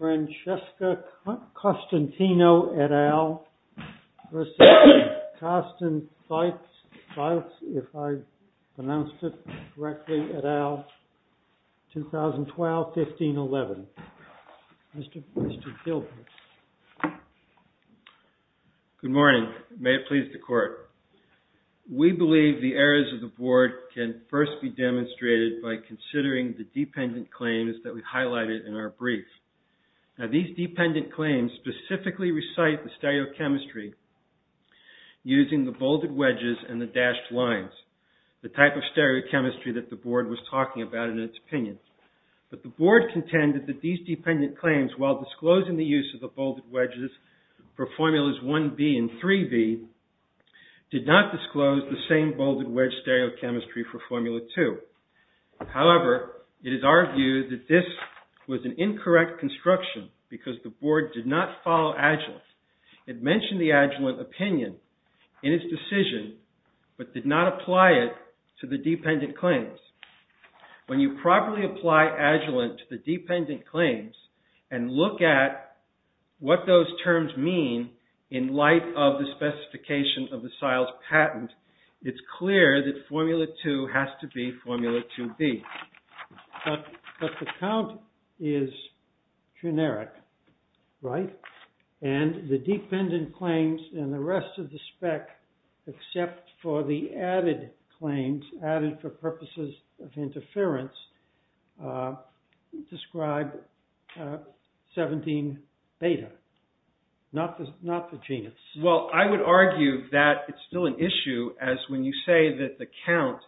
2012-15-11 We believe the errors of the Board can first be demonstrated by considering the dependent claims that we highlighted in our brief. These dependent claims specifically recite the stereochemistry using the bolded wedges and the dashed lines, the type of stereochemistry that the Board was talking about in its opinion. But the Board contended that these dependent claims, while disclosing the use of the bolded wedges for Formulas 1B and 3B, did not disclose the same bolded wedge stereochemistry for Formula 2. However, it is our view that this was an incorrect construction because the Board did not follow Agilent. It mentioned the Agilent opinion in its decision but did not apply it to the dependent claims. When you properly apply Agilent to the dependent claims and look at what those terms mean in light of the specification of the SEILZ patent, it's clear that Formula 2 has to be Formula 2B. But the count is generic, right? And the dependent claims and the rest of the spec, except for the added claims, added for purposes of interference, describe 17 beta, not the genus. Well, I would argue that it's still an issue as when you say that the count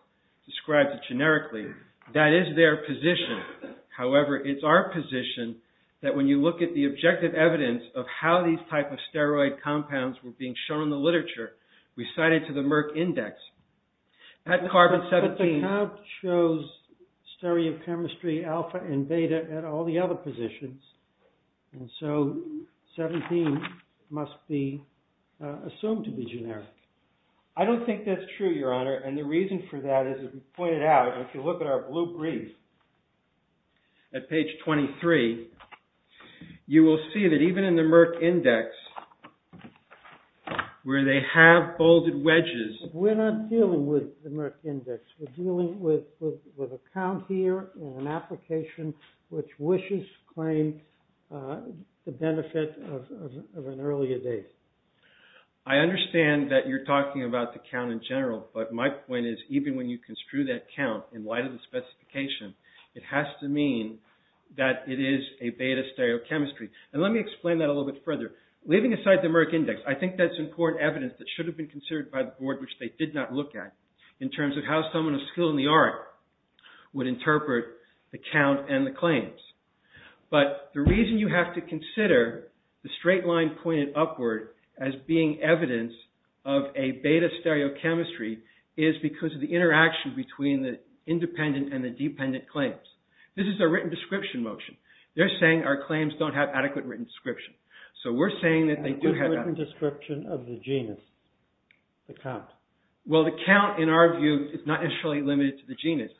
describes it generically, that is their position. However, it's our position that when you look at the objective evidence of how these type of steroid compounds were being shown in the literature, we cite it to the Merck Index. But the count shows stereochemistry alpha and beta at all the other positions. And so 17 must be assumed to be generic. I don't think that's true, Your Honor. And the reason for that is, as we pointed out, if you look at our blue brief at page 23, you will see that even in the Merck Index where they have bolded wedges. We're not dealing with the Merck Index. We're dealing with a count here and an application which wishes to claim the benefit of an earlier date. I understand that you're talking about the count in general, but my point is even when you construe that count in light of the specification, it has to mean that it is a beta stereochemistry. And let me explain that a little bit further. Leaving aside the Merck Index, I think that's important evidence that should have been considered by the board, which they did not look at, in terms of how someone of skill in the art would interpret the count and the claims. But the reason you have to consider the straight line pointed upward as being evidence of a beta stereochemistry is because of the interaction between the independent and the dependent claims. This is a written description motion. They're saying our claims don't have adequate written description. Description of the genus, the count. Well, the count, in our view, is not necessarily limited to the genus.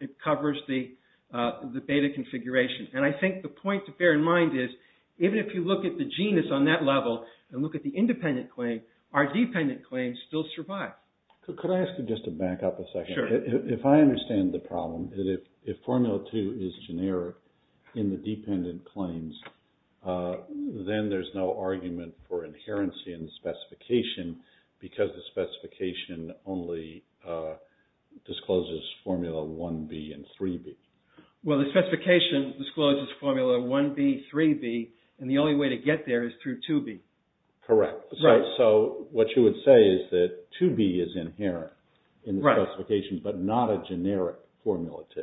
It covers the beta configuration. And I think the point to bear in mind is even if you look at the genus on that level and look at the independent claim, our dependent claims still survive. Could I ask you just to back up a second? Sure. If I understand the problem, if formula 2 is generic in the dependent claims, then there's no argument for inherency in the specification because the specification only discloses formula 1B and 3B. Well, the specification discloses formula 1B, 3B, and the only way to get there is through 2B. Correct. So what you would say is that 2B is inherent in the specifications but not a generic formula 2.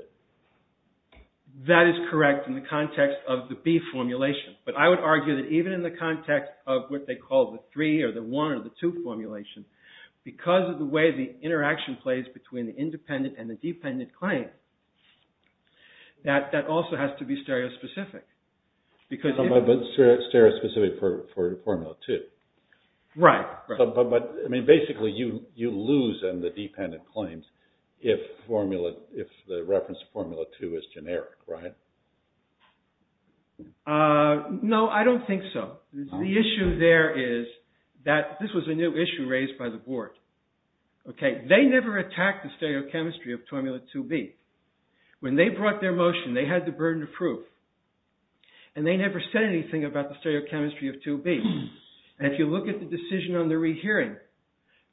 That is correct in the context of the B formulation. But I would argue that even in the context of what they call the 3 or the 1 or the 2 formulation, because of the way the interaction plays between the independent and the dependent claim, that also has to be stereospecific. But stereospecific for formula 2. Right. But basically you lose in the dependent claims if the reference formula 2 is generic, right? No, I don't think so. The issue there is that this was a new issue raised by the board. They never attacked the stereochemistry of formula 2B. When they brought their motion, they had the burden of proof. And they never said anything about the stereochemistry of 2B. And if you look at the decision on the rehearing,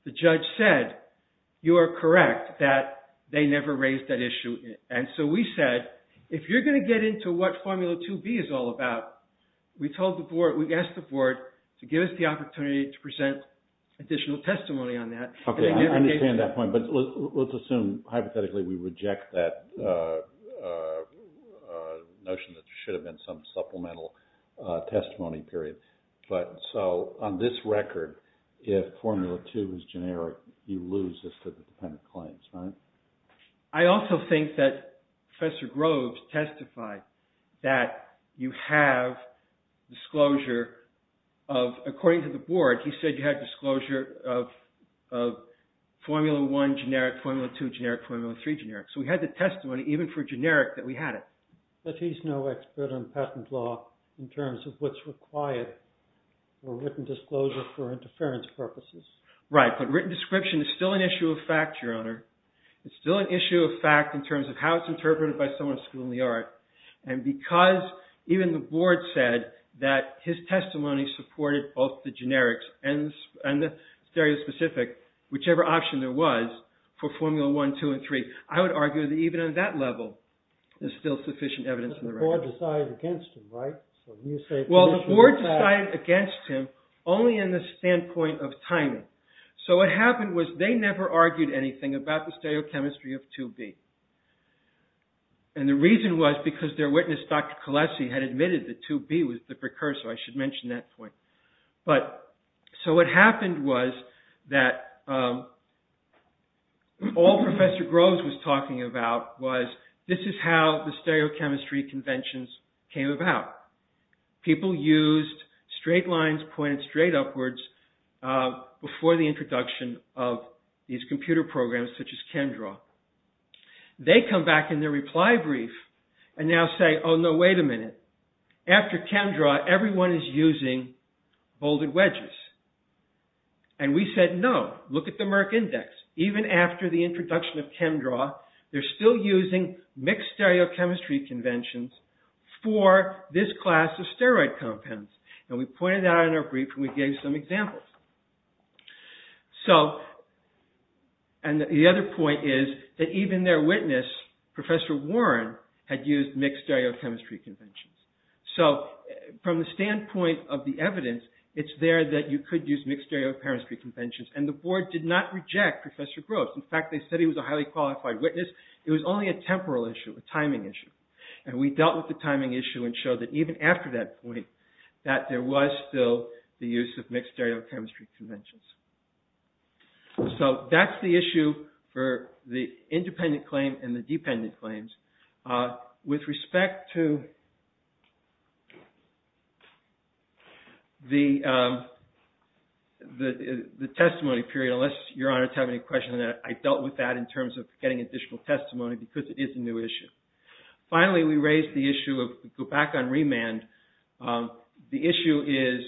the judge said, you are correct that they never raised that issue. And so we said, if you're going to get into what formula 2B is all about, we asked the board to give us the opportunity to present additional testimony on that. Okay, I understand that point, but let's assume hypothetically we reject that notion that there should have been some supplemental testimony period. But so on this record, if formula 2 is generic, you lose this to the dependent claims, right? I also think that Professor Groves testified that you have disclosure of, according to the board, he said you have disclosure of formula 1 generic, formula 2 generic, formula 3 generic. So we had the testimony, even for generic, that we had it. But he's no expert on patent law in terms of what's required for written disclosure for interference purposes. Right, but written description is still an issue of fact, Your Honor. It's still an issue of fact in terms of how it's interpreted by someone schooled in the art. And because even the board said that his testimony supported both the generics and the stereospecific, whichever option there was for formula 1, 2, and 3, I would argue that even on that level there's still sufficient evidence in the record. But the board decided against him, right? Well, the board decided against him only in the standpoint of timing. So what happened was they never argued anything about the stereochemistry of 2B. And the reason was because their witness, Dr. Kolesi, had admitted that 2B was the precursor. I should mention that point. So what happened was that all Professor Groves was talking about was this is how the stereochemistry conventions came about. People used straight lines pointed straight upwards before the introduction of these computer programs such as ChemDraw. They come back in their reply brief and now say, oh, no, wait a minute. After ChemDraw everyone is using bolded wedges. And we said, no, look at the Merck Index. Even after the introduction of ChemDraw, they're still using mixed stereochemistry conventions for this class of steroid compounds. And we pointed that out in our brief and we gave some examples. And the other point is that even their witness, Professor Warren, had used mixed stereochemistry conventions. So from the standpoint of the evidence, it's there that you could use mixed stereochemistry conventions. And the board did not reject Professor Groves. In fact, they said he was a highly qualified witness. It was only a temporal issue, a timing issue. And we dealt with the timing issue and showed that even after that point, that there was still the use of mixed stereochemistry conventions. So that's the issue for the independent claim and the dependent claims. With respect to the testimony period, unless Your Honor has any questions on that, I dealt with that in terms of getting additional testimony because it is a new issue. Finally, we raised the issue of, to go back on remand, the issue is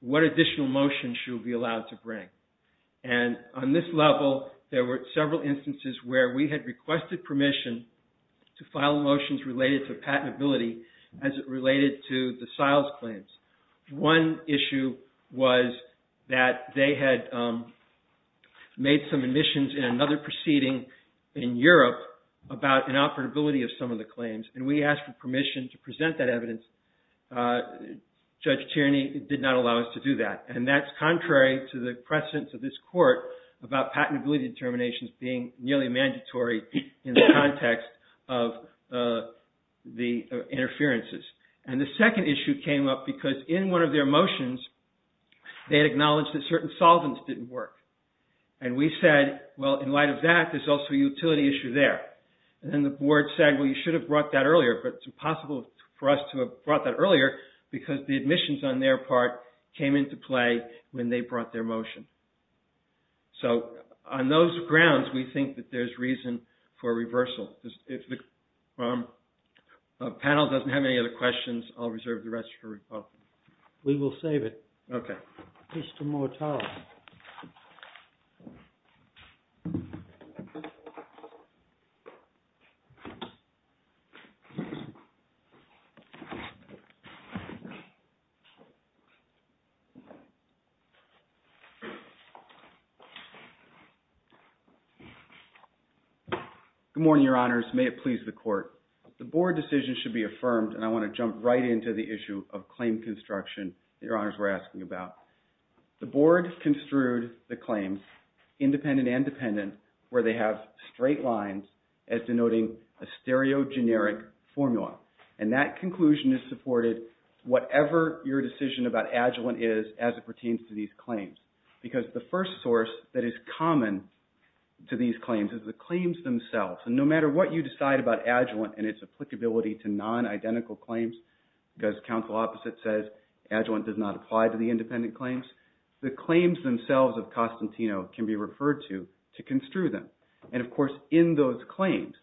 what additional motion should we be allowed to bring. And on this level, there were several instances where we had requested permission to file motions related to patentability as it related to the SILES claims. One issue was that they had made some admissions in another proceeding in Europe about inoperability of some of the claims. And we asked for permission to present that evidence. Judge Tierney did not allow us to do that. And that's contrary to the precedence of this court about patentability determinations being nearly mandatory in the context of the interferences. And the second issue came up because in one of their motions, they had acknowledged that certain solvents didn't work. And we said, well, in light of that, there's also a utility issue there. And the board said, well, you should have brought that earlier, but it's impossible for us to have brought that earlier because the admissions on their part came into play when they brought their motion. So on those grounds, we think that there's reason for reversal. If the panel doesn't have any other questions, I'll reserve the rest for rebuttal. We will save it. Okay. Mr. Motale. Good morning, Your Honors. May it please the court. The board decision should be affirmed, and I want to jump right into the issue of claim construction that Your Honors were asking about. The board construed the claims, independent and dependent, where they have straight lines as denoting a stereogeneric formula. And that conclusion is supported whatever your decision about adjuvant is as it pertains to these claims. Because the first source that is common to these claims is the claims themselves. And no matter what you decide about adjuvant and its applicability to adjuvant does not apply to the independent claims, the claims themselves of Costantino can be referred to to construe them. And, of course, in those claims,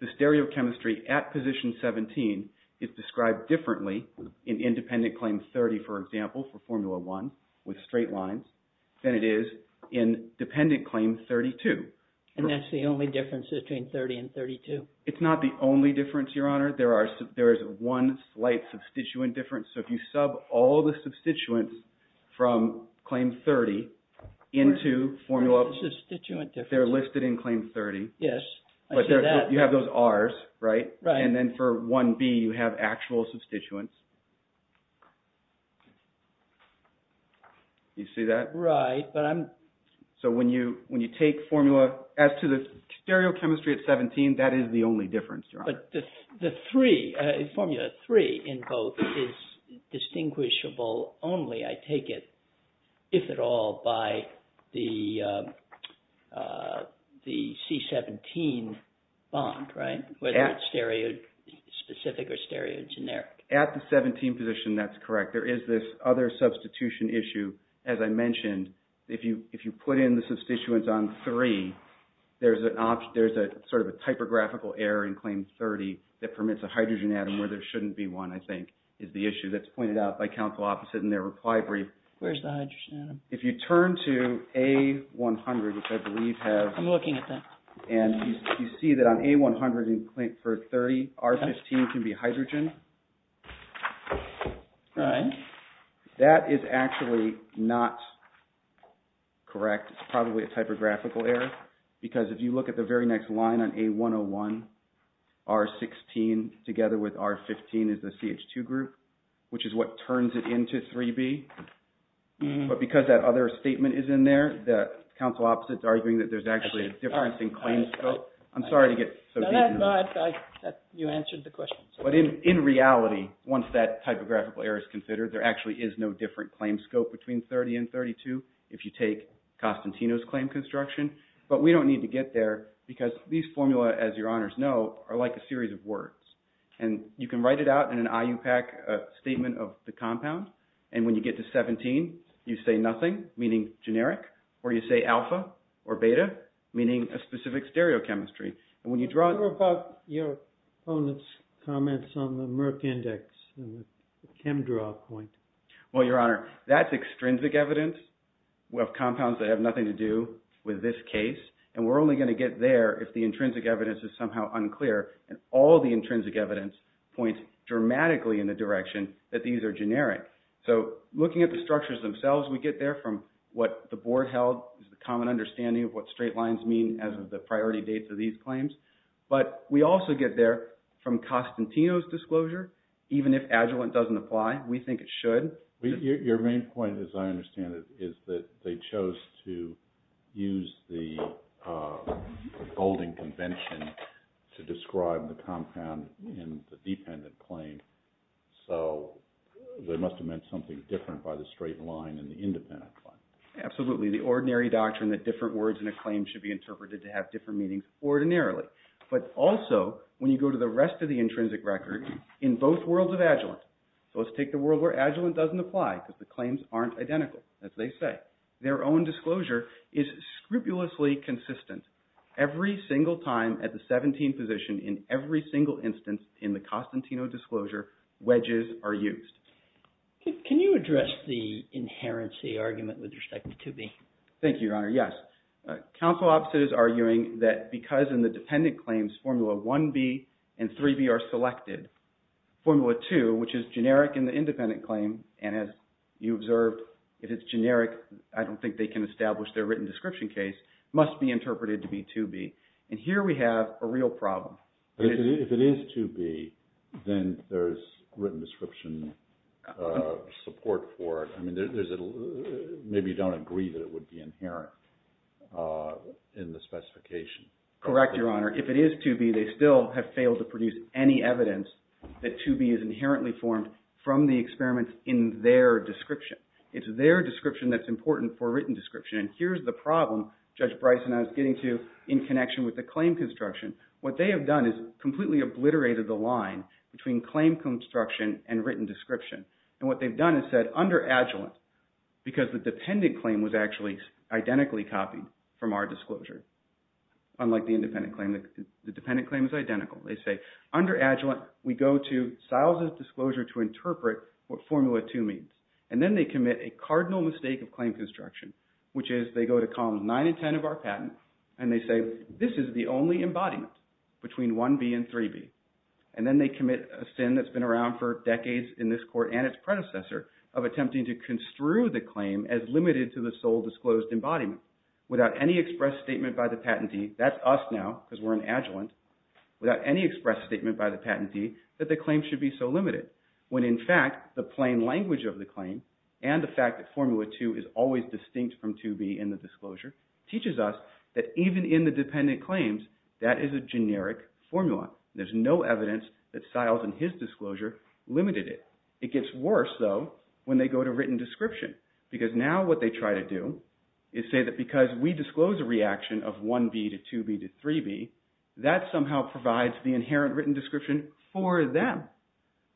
the stereochemistry at position 17 is described differently in independent claim 30, for example, for formula 1 with straight lines than it is in dependent claim 32. And that's the only difference between 30 and 32? It's not the only difference, Your Honor. There is one slight substituent difference. So if you sub all the substituents from claim 30 into formula… What's the substituent difference? They're listed in claim 30. Yes. But you have those Rs, right? Right. And then for 1B you have actual substituents. You see that? Right, but I'm… So when you take formula… As to the stereochemistry at 17, that is the only difference, Your Honor. But the 3, formula 3 in both is distinguishable only, I take it, if at all, by the C17 bond, right? Whether it's stereospecific or stereogeneric. At the 17 position, that's correct. There is this other substitution issue. As I mentioned, if you put in the substituents on 3, there's a sort of a typographical error in claim 30 that permits a hydrogen atom where there shouldn't be one, I think, is the issue that's pointed out by counsel opposite in their reply brief. Where's the hydrogen atom? If you turn to A100, which I believe has… I'm looking at that. And you see that on A100 for 30, R15 can be hydrogen. Right. That is actually not correct. It's probably a typographical error. Because if you look at the very next line on A101, R16 together with R15 is the CH2 group, which is what turns it into 3B. But because that other statement is in there, the counsel opposite is arguing that there's actually a difference in claim scope. I'm sorry to get so deep. You answered the question. But in reality, once that typographical error is considered, there actually is no different claim scope between 30 and 32 if you take Costantino's claim construction. But we don't need to get there because these formula, as your honors know, are like a series of words. And you can write it out in an IUPAC statement of the compound. And when you get to 17, you say nothing, meaning generic. Or you say alpha or beta, meaning a specific stereochemistry. And when you draw… What about your opponent's comments on the Merck index and the chem draw point? Well, your honor, that's extrinsic evidence. We have compounds that have nothing to do with this case. And we're only going to get there if the intrinsic evidence is somehow unclear. And all the intrinsic evidence points dramatically in the direction that these are generic. So looking at the structures themselves, we get there from what the board held is the common understanding of what straight lines mean as of the priority dates of these claims. But we also get there from Costantino's disclosure. Even if Agilent doesn't apply, we think it should. Your main point, as I understand it, is that they chose to use the golding convention to describe the compound in the dependent claim. So they must have meant something different by the straight line in the independent claim. Absolutely. The ordinary doctrine that different words in a claim should be interpreted to have different meanings ordinarily. But also, when you go to the rest of the intrinsic record, in both worlds of Agilent. So let's take the world where Agilent doesn't apply because the claims aren't identical, as they say. Their own disclosure is scrupulously consistent. Every single time at the 17th position in every single instance in the Costantino disclosure, wedges are used. Can you address the inherency argument with respect to 2B? Thank you, Your Honor. Yes. Counsel opposite is arguing that because in the dependent claims, Formula 1B and 3B are selected. Formula 2, which is generic in the independent claim, and as you observed, if it's generic, I don't think they can establish their written description case, must be interpreted to be 2B. And here we have a real problem. If it is 2B, then there's written description support for it. Maybe you don't agree that it would be inherent in the specification. Correct, Your Honor. If it is 2B, they still have failed to produce any evidence that 2B is inherently formed from the experiments in their description. It's their description that's important for written description. And here's the problem Judge Bryson and I was getting to in connection with the claim construction. What they have done is completely obliterated the line between claim construction and written description. And what they've done is said, under Agilent, because the dependent claim was actually identically copied from our disclosure, unlike the independent claim, the dependent claim is identical. They say, under Agilent, we go to Siles' disclosure to interpret what Formula 2 means. And then they commit a cardinal mistake of claim construction, which is they go to columns 9 and 10 of our patent, and they say, this is the only embodiment between 1B and 3B. And then they commit a sin that's been around for decades in this court and its predecessor of attempting to construe the claim as limited to the sole disclosed embodiment, without any express statement by the patentee, that's us now because we're in Agilent, without any express statement by the patentee that the claim should be so limited. When in fact, the plain language of the claim and the fact that Formula 2 is always distinct from 2B in the disclosure teaches us that even in the dependent claims, that is a generic formula. There's no evidence that Siles in his disclosure limited it. It gets worse, though, when they go to written description because now what they try to do is say that because we disclose a reaction of 1B to 2B to 3B, that somehow provides the inherent written description for them.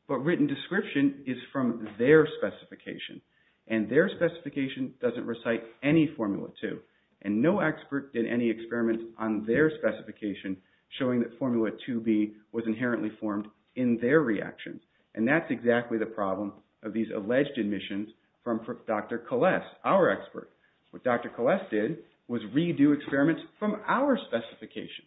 But written description is from their specification. And their specification doesn't recite any Formula 2. And no expert did any experiments on their specification showing that Formula 2B was inherently formed in their reaction. And that's exactly the problem of these alleged admissions from Dr. Kalless, our expert. What Dr. Kalless did was redo experiments from our specification.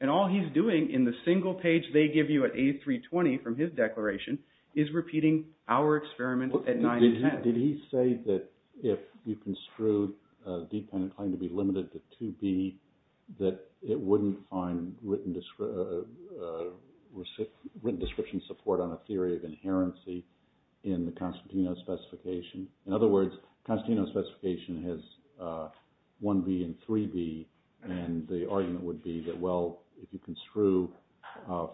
And all he's doing in the single page they give you at A320 from his declaration is repeating our experiments at 9 and 10. Did he say that if you construed a dependent claim to be limited to 2B, that it wouldn't find written description support on a theory of inherency in the Constantino specification? In other words, Constantino's specification has 1B and 3B. And the argument would be that, well, if you construe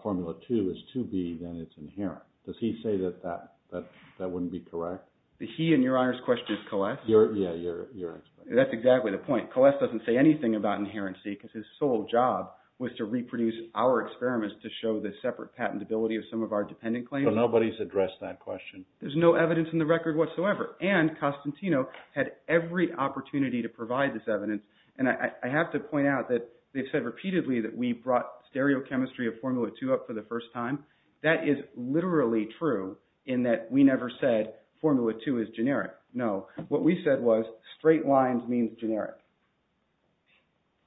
Formula 2 as 2B, then it's inherent. Does he say that that wouldn't be correct? The he in your honor's question is Kalless? Yeah, your expert. That's exactly the point. Kalless doesn't say anything about inherency because his sole job was to reproduce our experiments to show the separate patentability of some of our dependent claims. So nobody's addressed that question? There's no evidence in the record whatsoever. And Constantino had every opportunity to provide this evidence. And I have to point out that they've said repeatedly that we brought stereochemistry of Formula 2 up for the first time. That is literally true in that we never said Formula 2 is generic. No. What we said was straight lines means generic.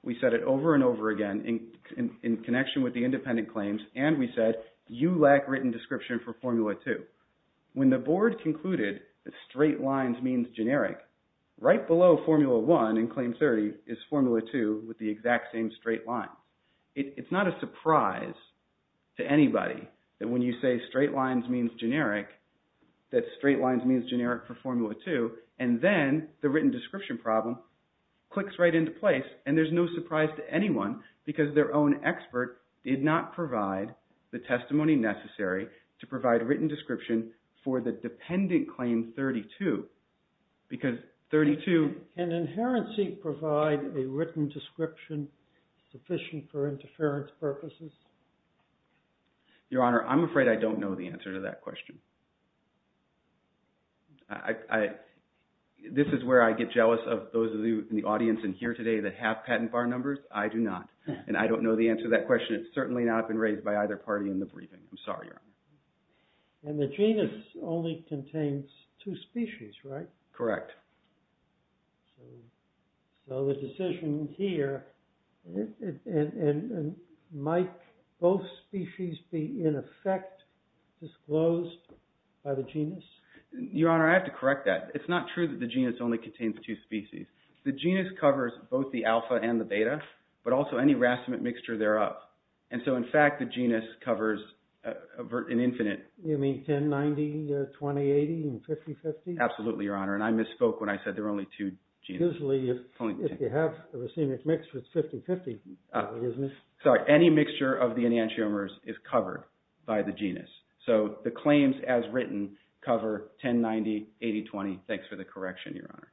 We said it over and over again in connection with the independent claims. And we said you lack written description for Formula 2. When the board concluded that straight lines means generic, right below Formula 1 in Claim 30 is Formula 2 with the exact same straight line. It's not a surprise to anybody that when you say straight lines means generic, that straight lines means generic for Formula 2. And then the written description problem clicks right into place. And there's no surprise to anyone because their own expert did not provide the testimony necessary to provide written description for the dependent Claim 32. Can inherency provide a written description sufficient for interference purposes? Your Honor, I'm afraid I don't know the answer to that question. This is where I get jealous of those of you in the audience in here today that have patent bar numbers. I do not. And I don't know the answer to that question. It's certainly not been raised by either party in the briefing. I'm sorry, Your Honor. And the genus only contains two species, right? Correct. So the decision here, might both species be in effect disclosed by the genus? Your Honor, I have to correct that. It's not true that the genus only contains two species. The genus covers both the alpha and the beta, but also any racemic mixture thereof. And so, in fact, the genus covers an infinite... You mean 10, 90, 20, 80, 50, 50? Absolutely, Your Honor. And I misspoke when I said there are only two genus. Usually, if you have a racemic mix, it's 50-50, isn't it? Sorry. Any mixture of the enantiomers is covered by the genus. So the claims as written cover 10, 90, 80, 20. Thanks for the correction, Your Honor.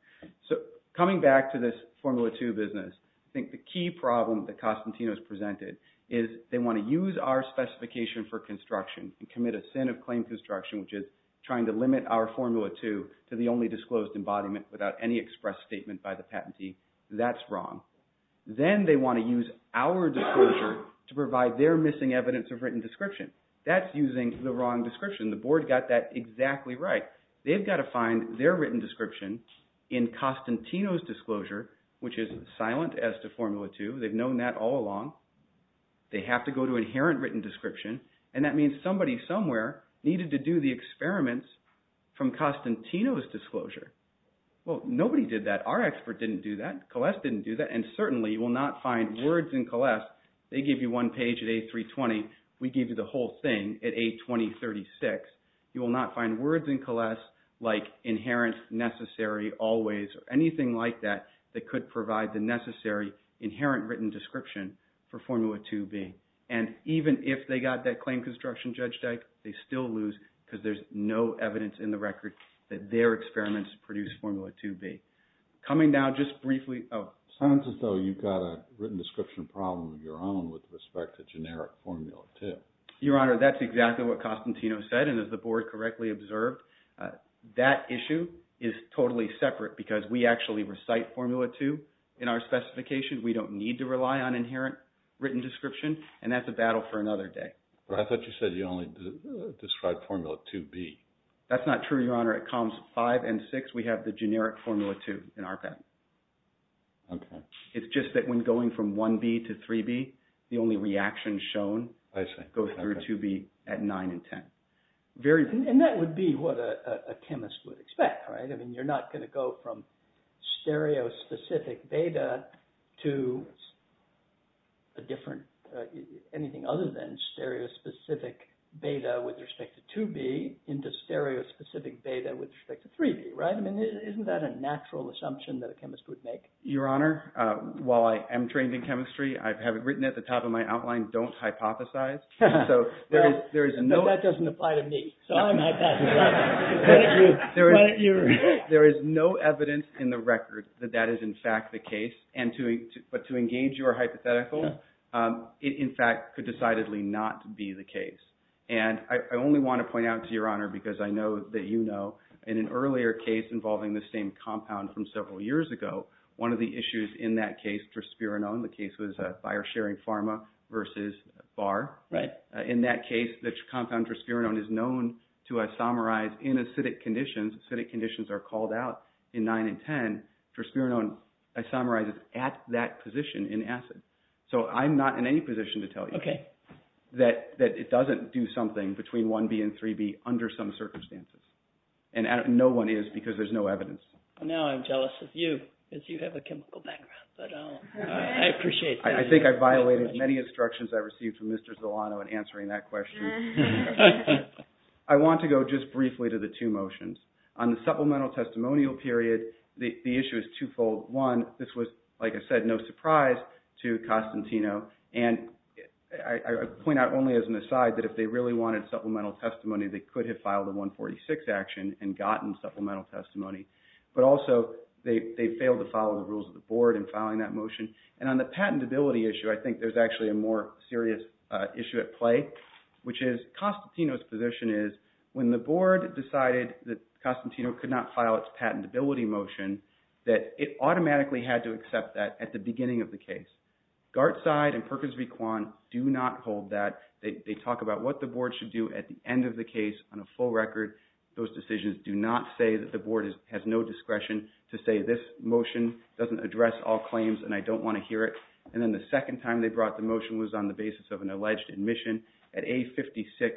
So coming back to this Formula 2 business, I think the key problem that Costantino has presented is they want to use our specification for construction and commit a sin of claim construction, which is trying to limit our Formula 2 to the only disclosed embodiment without any express statement by the patentee. That's wrong. Then they want to use our disclosure to provide their missing evidence of written description. That's using the wrong description. The board got that exactly right. They've got to find their written description in Costantino's disclosure, which is silent as to Formula 2. They've known that all along. They have to go to inherent written description, and that means somebody somewhere needed to do the experiments from Costantino's disclosure. Well, nobody did that. Our expert didn't do that. Colless didn't do that, and certainly you will not find words in Colless. They give you one page at A320. We give you the whole thing at A2036. You will not find words in Colless like inherent, necessary, always, or anything like that that could provide the necessary inherent written description for Formula 2B. And even if they got that claim construction, Judge Dyke, they still lose because there's no evidence in the record that their experiments produced Formula 2B. Coming down just briefly, oh. It sounds as though you've got a written description problem of your own with respect to generic Formula 2. Your Honor, that's exactly what Costantino said, and as the board correctly observed, that issue is totally separate because we actually recite Formula 2 in our specification. We don't need to rely on inherent written description, and that's a battle for another day. But I thought you said you only described Formula 2B. That's not true, Your Honor. At columns 5 and 6, we have the generic Formula 2 in our patent. Okay. It's just that when going from 1B to 3B, the only reaction shown goes through 2B at 9 and 10. And that would be what a chemist would expect, right? I mean, you're not going to go from stereo-specific data to anything other than stereo-specific beta with respect to 2B into stereo-specific beta with respect to 3B, right? Isn't that a natural assumption that a chemist would make? Your Honor, while I am trained in chemistry, I have it written at the top of my outline, don't hypothesize. That doesn't apply to me, so I'm hypothesizing. There is no evidence in the record that that is in fact the case. But to engage your hypothetical, it in fact could decidedly not be the case. And I only want to point out to Your Honor, because I know that you know, in an earlier case involving the same compound from several years ago, one of the issues in that case, traspirinone, the case was fire-sharing pharma versus BAR. Right. In that case, the compound traspirinone is known to isomerize in acidic conditions. When acidic conditions are called out in 9 and 10, traspirinone isomerizes at that position in acid. So I'm not in any position to tell you that it doesn't do something between 1B and 3B under some circumstances. And no one is, because there's no evidence. Now I'm jealous of you, because you have a chemical background. But I appreciate that. I think I violated many instructions I received from Mr. Zolano in answering that question. I want to go just briefly to the two motions. On the supplemental testimonial period, the issue is twofold. One, this was, like I said, no surprise to Costantino. And I point out only as an aside that if they really wanted supplemental testimony, they could have filed a 146 action and gotten supplemental testimony. But also, they failed to follow the rules of the board in filing that motion. And on the patentability issue, I think there's actually a more serious issue at play, which is Costantino's position is when the board decided that Costantino could not file its patentability motion, that it automatically had to accept that at the beginning of the case. Gartside and Perkins v. Kwan do not hold that. They talk about what the board should do at the end of the case. On a full record, those decisions do not say that the board has no discretion to say this motion doesn't address all claims and I don't want to hear it. And then the second time they brought the motion was on the basis of an alleged admission. At A56,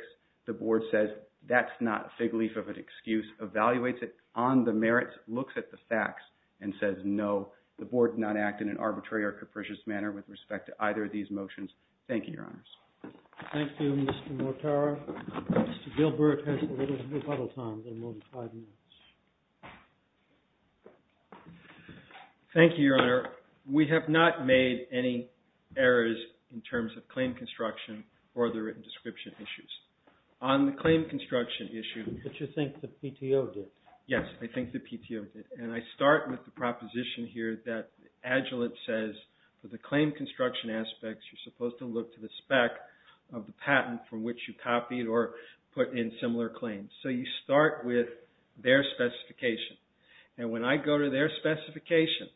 the board says, that's not a fig leaf of an excuse, evaluates it on the merits, looks at the facts, and says no. The board did not act in an arbitrary or capricious manner with respect to either of these motions. Thank you, Your Honors. Thank you, Mr. Mortara. Mr. Gilbert has a little rebuttal time, a little more than five minutes. Thank you, Your Honor. We have not made any errors in terms of claim construction or the written description issues. On the claim construction issue... But you think the PTO did. Yes, I think the PTO did. And I start with the proposition here that Agilent says for the claim construction aspects, you're supposed to look to the spec of the patent from which you copied or put in similar claims. So you start with their specification. And when I go to their specification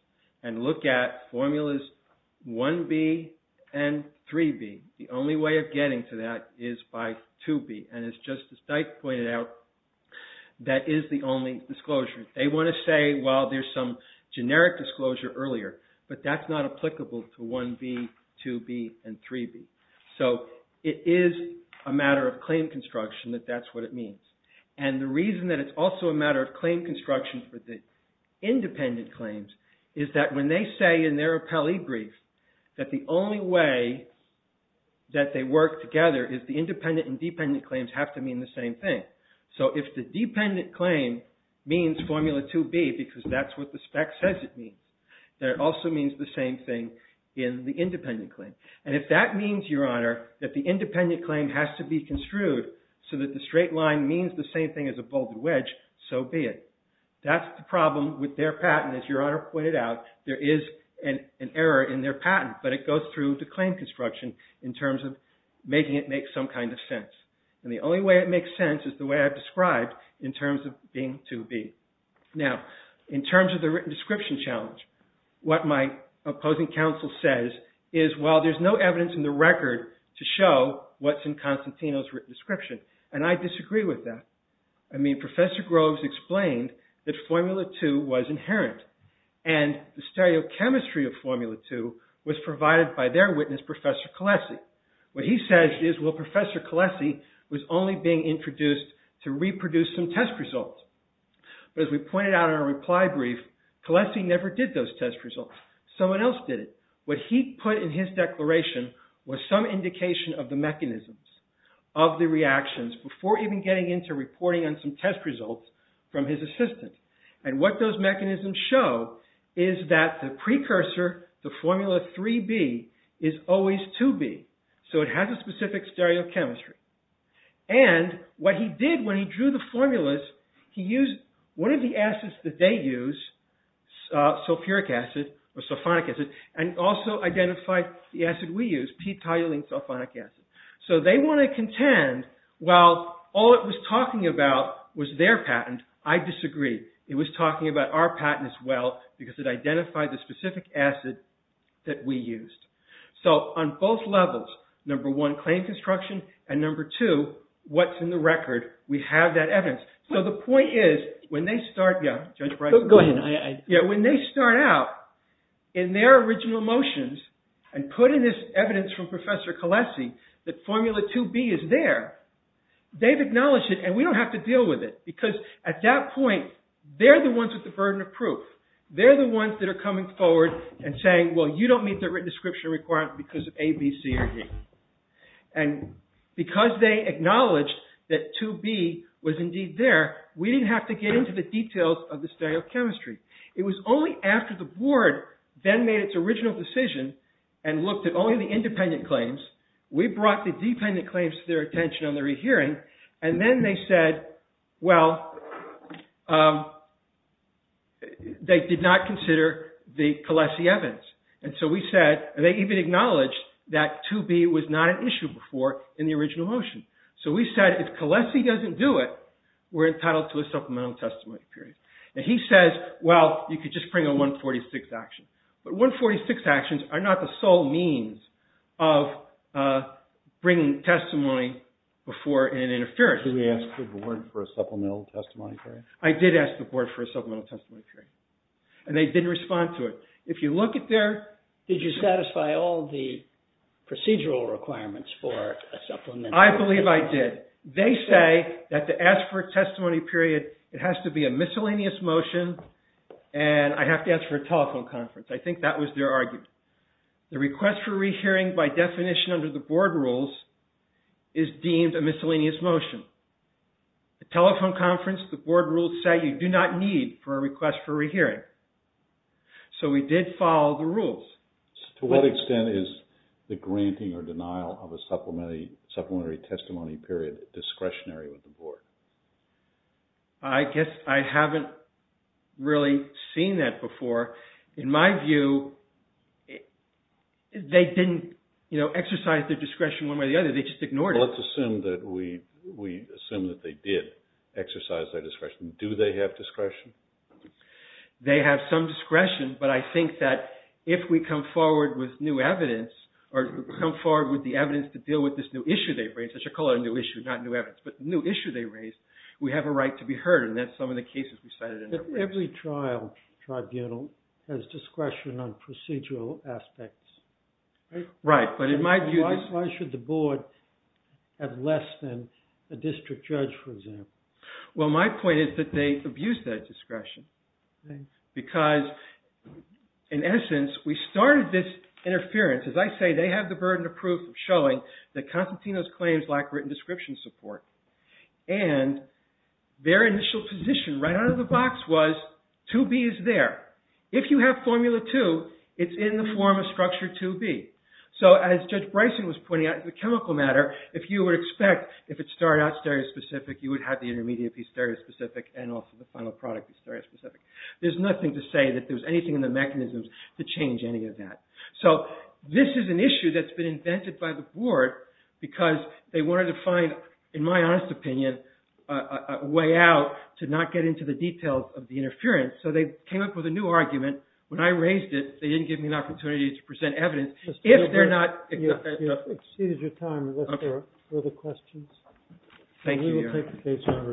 and look at formulas 1B and 3B, the only way of getting to that is by 2B. And it's just as Dyke pointed out, that is the only disclosure. They want to say, well, there's some generic disclosure earlier, but that's not applicable to 1B, 2B, and 3B. So it is a matter of claim construction that that's what it means. And the reason that it's also a matter of claim construction for the independent claims is that when they say in their appellee brief that the only way that they work together is the independent and dependent claims have to mean the same thing. So if the dependent claim means formula 2B because that's what the spec says it means, then it also means the same thing in the independent claim. And if that means, Your Honor, that the independent claim has to be construed so that the straight line means the same thing as a bolded wedge, so be it. That's the problem with their patent as Your Honor pointed out. There is an error in their patent, but it goes through the claim construction in terms of making it make some kind of sense. And the only way it makes sense is the way I've described in terms of being 2B. Now, in terms of the written description challenge, what my opposing counsel says is, well, there's no evidence in the record to show what's in Constantino's written description. And I disagree with that. I mean, Professor Groves explained that formula 2 was inherent. And the stereochemistry of formula 2 was provided by their witness, Professor Colessi. What he says is, well, Professor Colessi was only being introduced to reproduce some test results. But as we pointed out in our reply brief, Colessi never did those test results. Someone else did it. What he put in his declaration was some indication of the mechanisms of the reactions before even getting into reporting on some test results from his assistant. And what those mechanisms show is that the precursor, the formula 3B, is always 2B. So it has a specific stereochemistry. And what he did when he drew the formulas, he used one of the acids that they use, sulfuric acid, or sulfonic acid, and also identified the acid we use, p-toluene sulfonic acid. So they want to contend, while all it was talking about was their patent, I disagree. It was talking about our patent as well because it identified the specific acid that we used. So on both levels, number one, claim construction, and number two, what's in the record, we have that evidence. So the point is, when they start, yeah, Judge Breyer. Go ahead. Yeah, when they start out in their original motions and put in this evidence from Professor Colessi that formula 2B is there, they've acknowledged it and we don't have to deal with it because at that point, they're the ones with the burden of proof. They're the ones that are coming forward and saying, well, you don't meet the written description requirement because of A, B, C, or D. And because they acknowledged that 2B was indeed there, we didn't have to get into the details of the stereochemistry. It was only after the board then made its original decision and looked at only the independent claims, we brought the dependent claims to their attention on the rehearing and then they said, well, they did not consider the Colessi evidence. And so we said, and they even acknowledged that 2B was not an issue before in the original motion. So we said, if Colessi doesn't do it, we're entitled to a supplemental testimony period. And he says, well, you could just bring a 146 action. But 146 actions are not the sole means of bringing testimony before an interference. Did we ask the board for a supplemental testimony period? I did ask the board for a supplemental testimony period. And they didn't respond to it. If you look at their... Did you satisfy all the procedural requirements for a supplemental testimony period? I believe I did. They say that to ask for a testimony period, it has to be a miscellaneous motion and I have to ask for a telephone conference. I think that was their argument. The request for rehearing by definition under the board rules is deemed a miscellaneous motion. The telephone conference, the board rules say you do not need for a request for rehearing. So we did follow the rules. To what extent is the granting or denial of a supplementary testimony period discretionary with the board? I guess I haven't really seen that before. In my view, they didn't exercise their discretion one way or the other. They just ignored it. Let's assume that they did exercise their discretion. Do they have discretion? They have some discretion, but I think that if we come forward with new evidence or come forward with the evidence to deal with this new issue they've raised, I should call it a new issue, not new evidence, but the new issue they've raised, we have a right to be heard and that's some of the cases we cited. Every trial tribunal has discretion on procedural aspects. Right, but in my view... Why should the board have less than a district judge, for example? Well, my point is that they abuse that discretion because, in essence, we started this interference. As I say, they have the burden of proof showing that Constantino's claims lack written description support and their initial position, right out of the box, was 2B is there. If you have formula 2, it's in the form of structure 2B. So, as Judge Bryson was pointing out, the chemical matter, if you would expect, if it started out stereospecific, you would have the intermediate be stereospecific and also the final product be stereospecific. There's nothing to say that there's anything in the mechanisms to change any of that. So, this is an issue that's been invented by the board because they wanted to find, in my honest opinion, a way out to not get into the details of the interference. So, they came up with a new argument. When I raised it, they didn't give me an opportunity to present evidence. If they're not... You've exceeded your time. Are there further questions? Thank you, Your Honor. We will take the case under advisement. Thank you.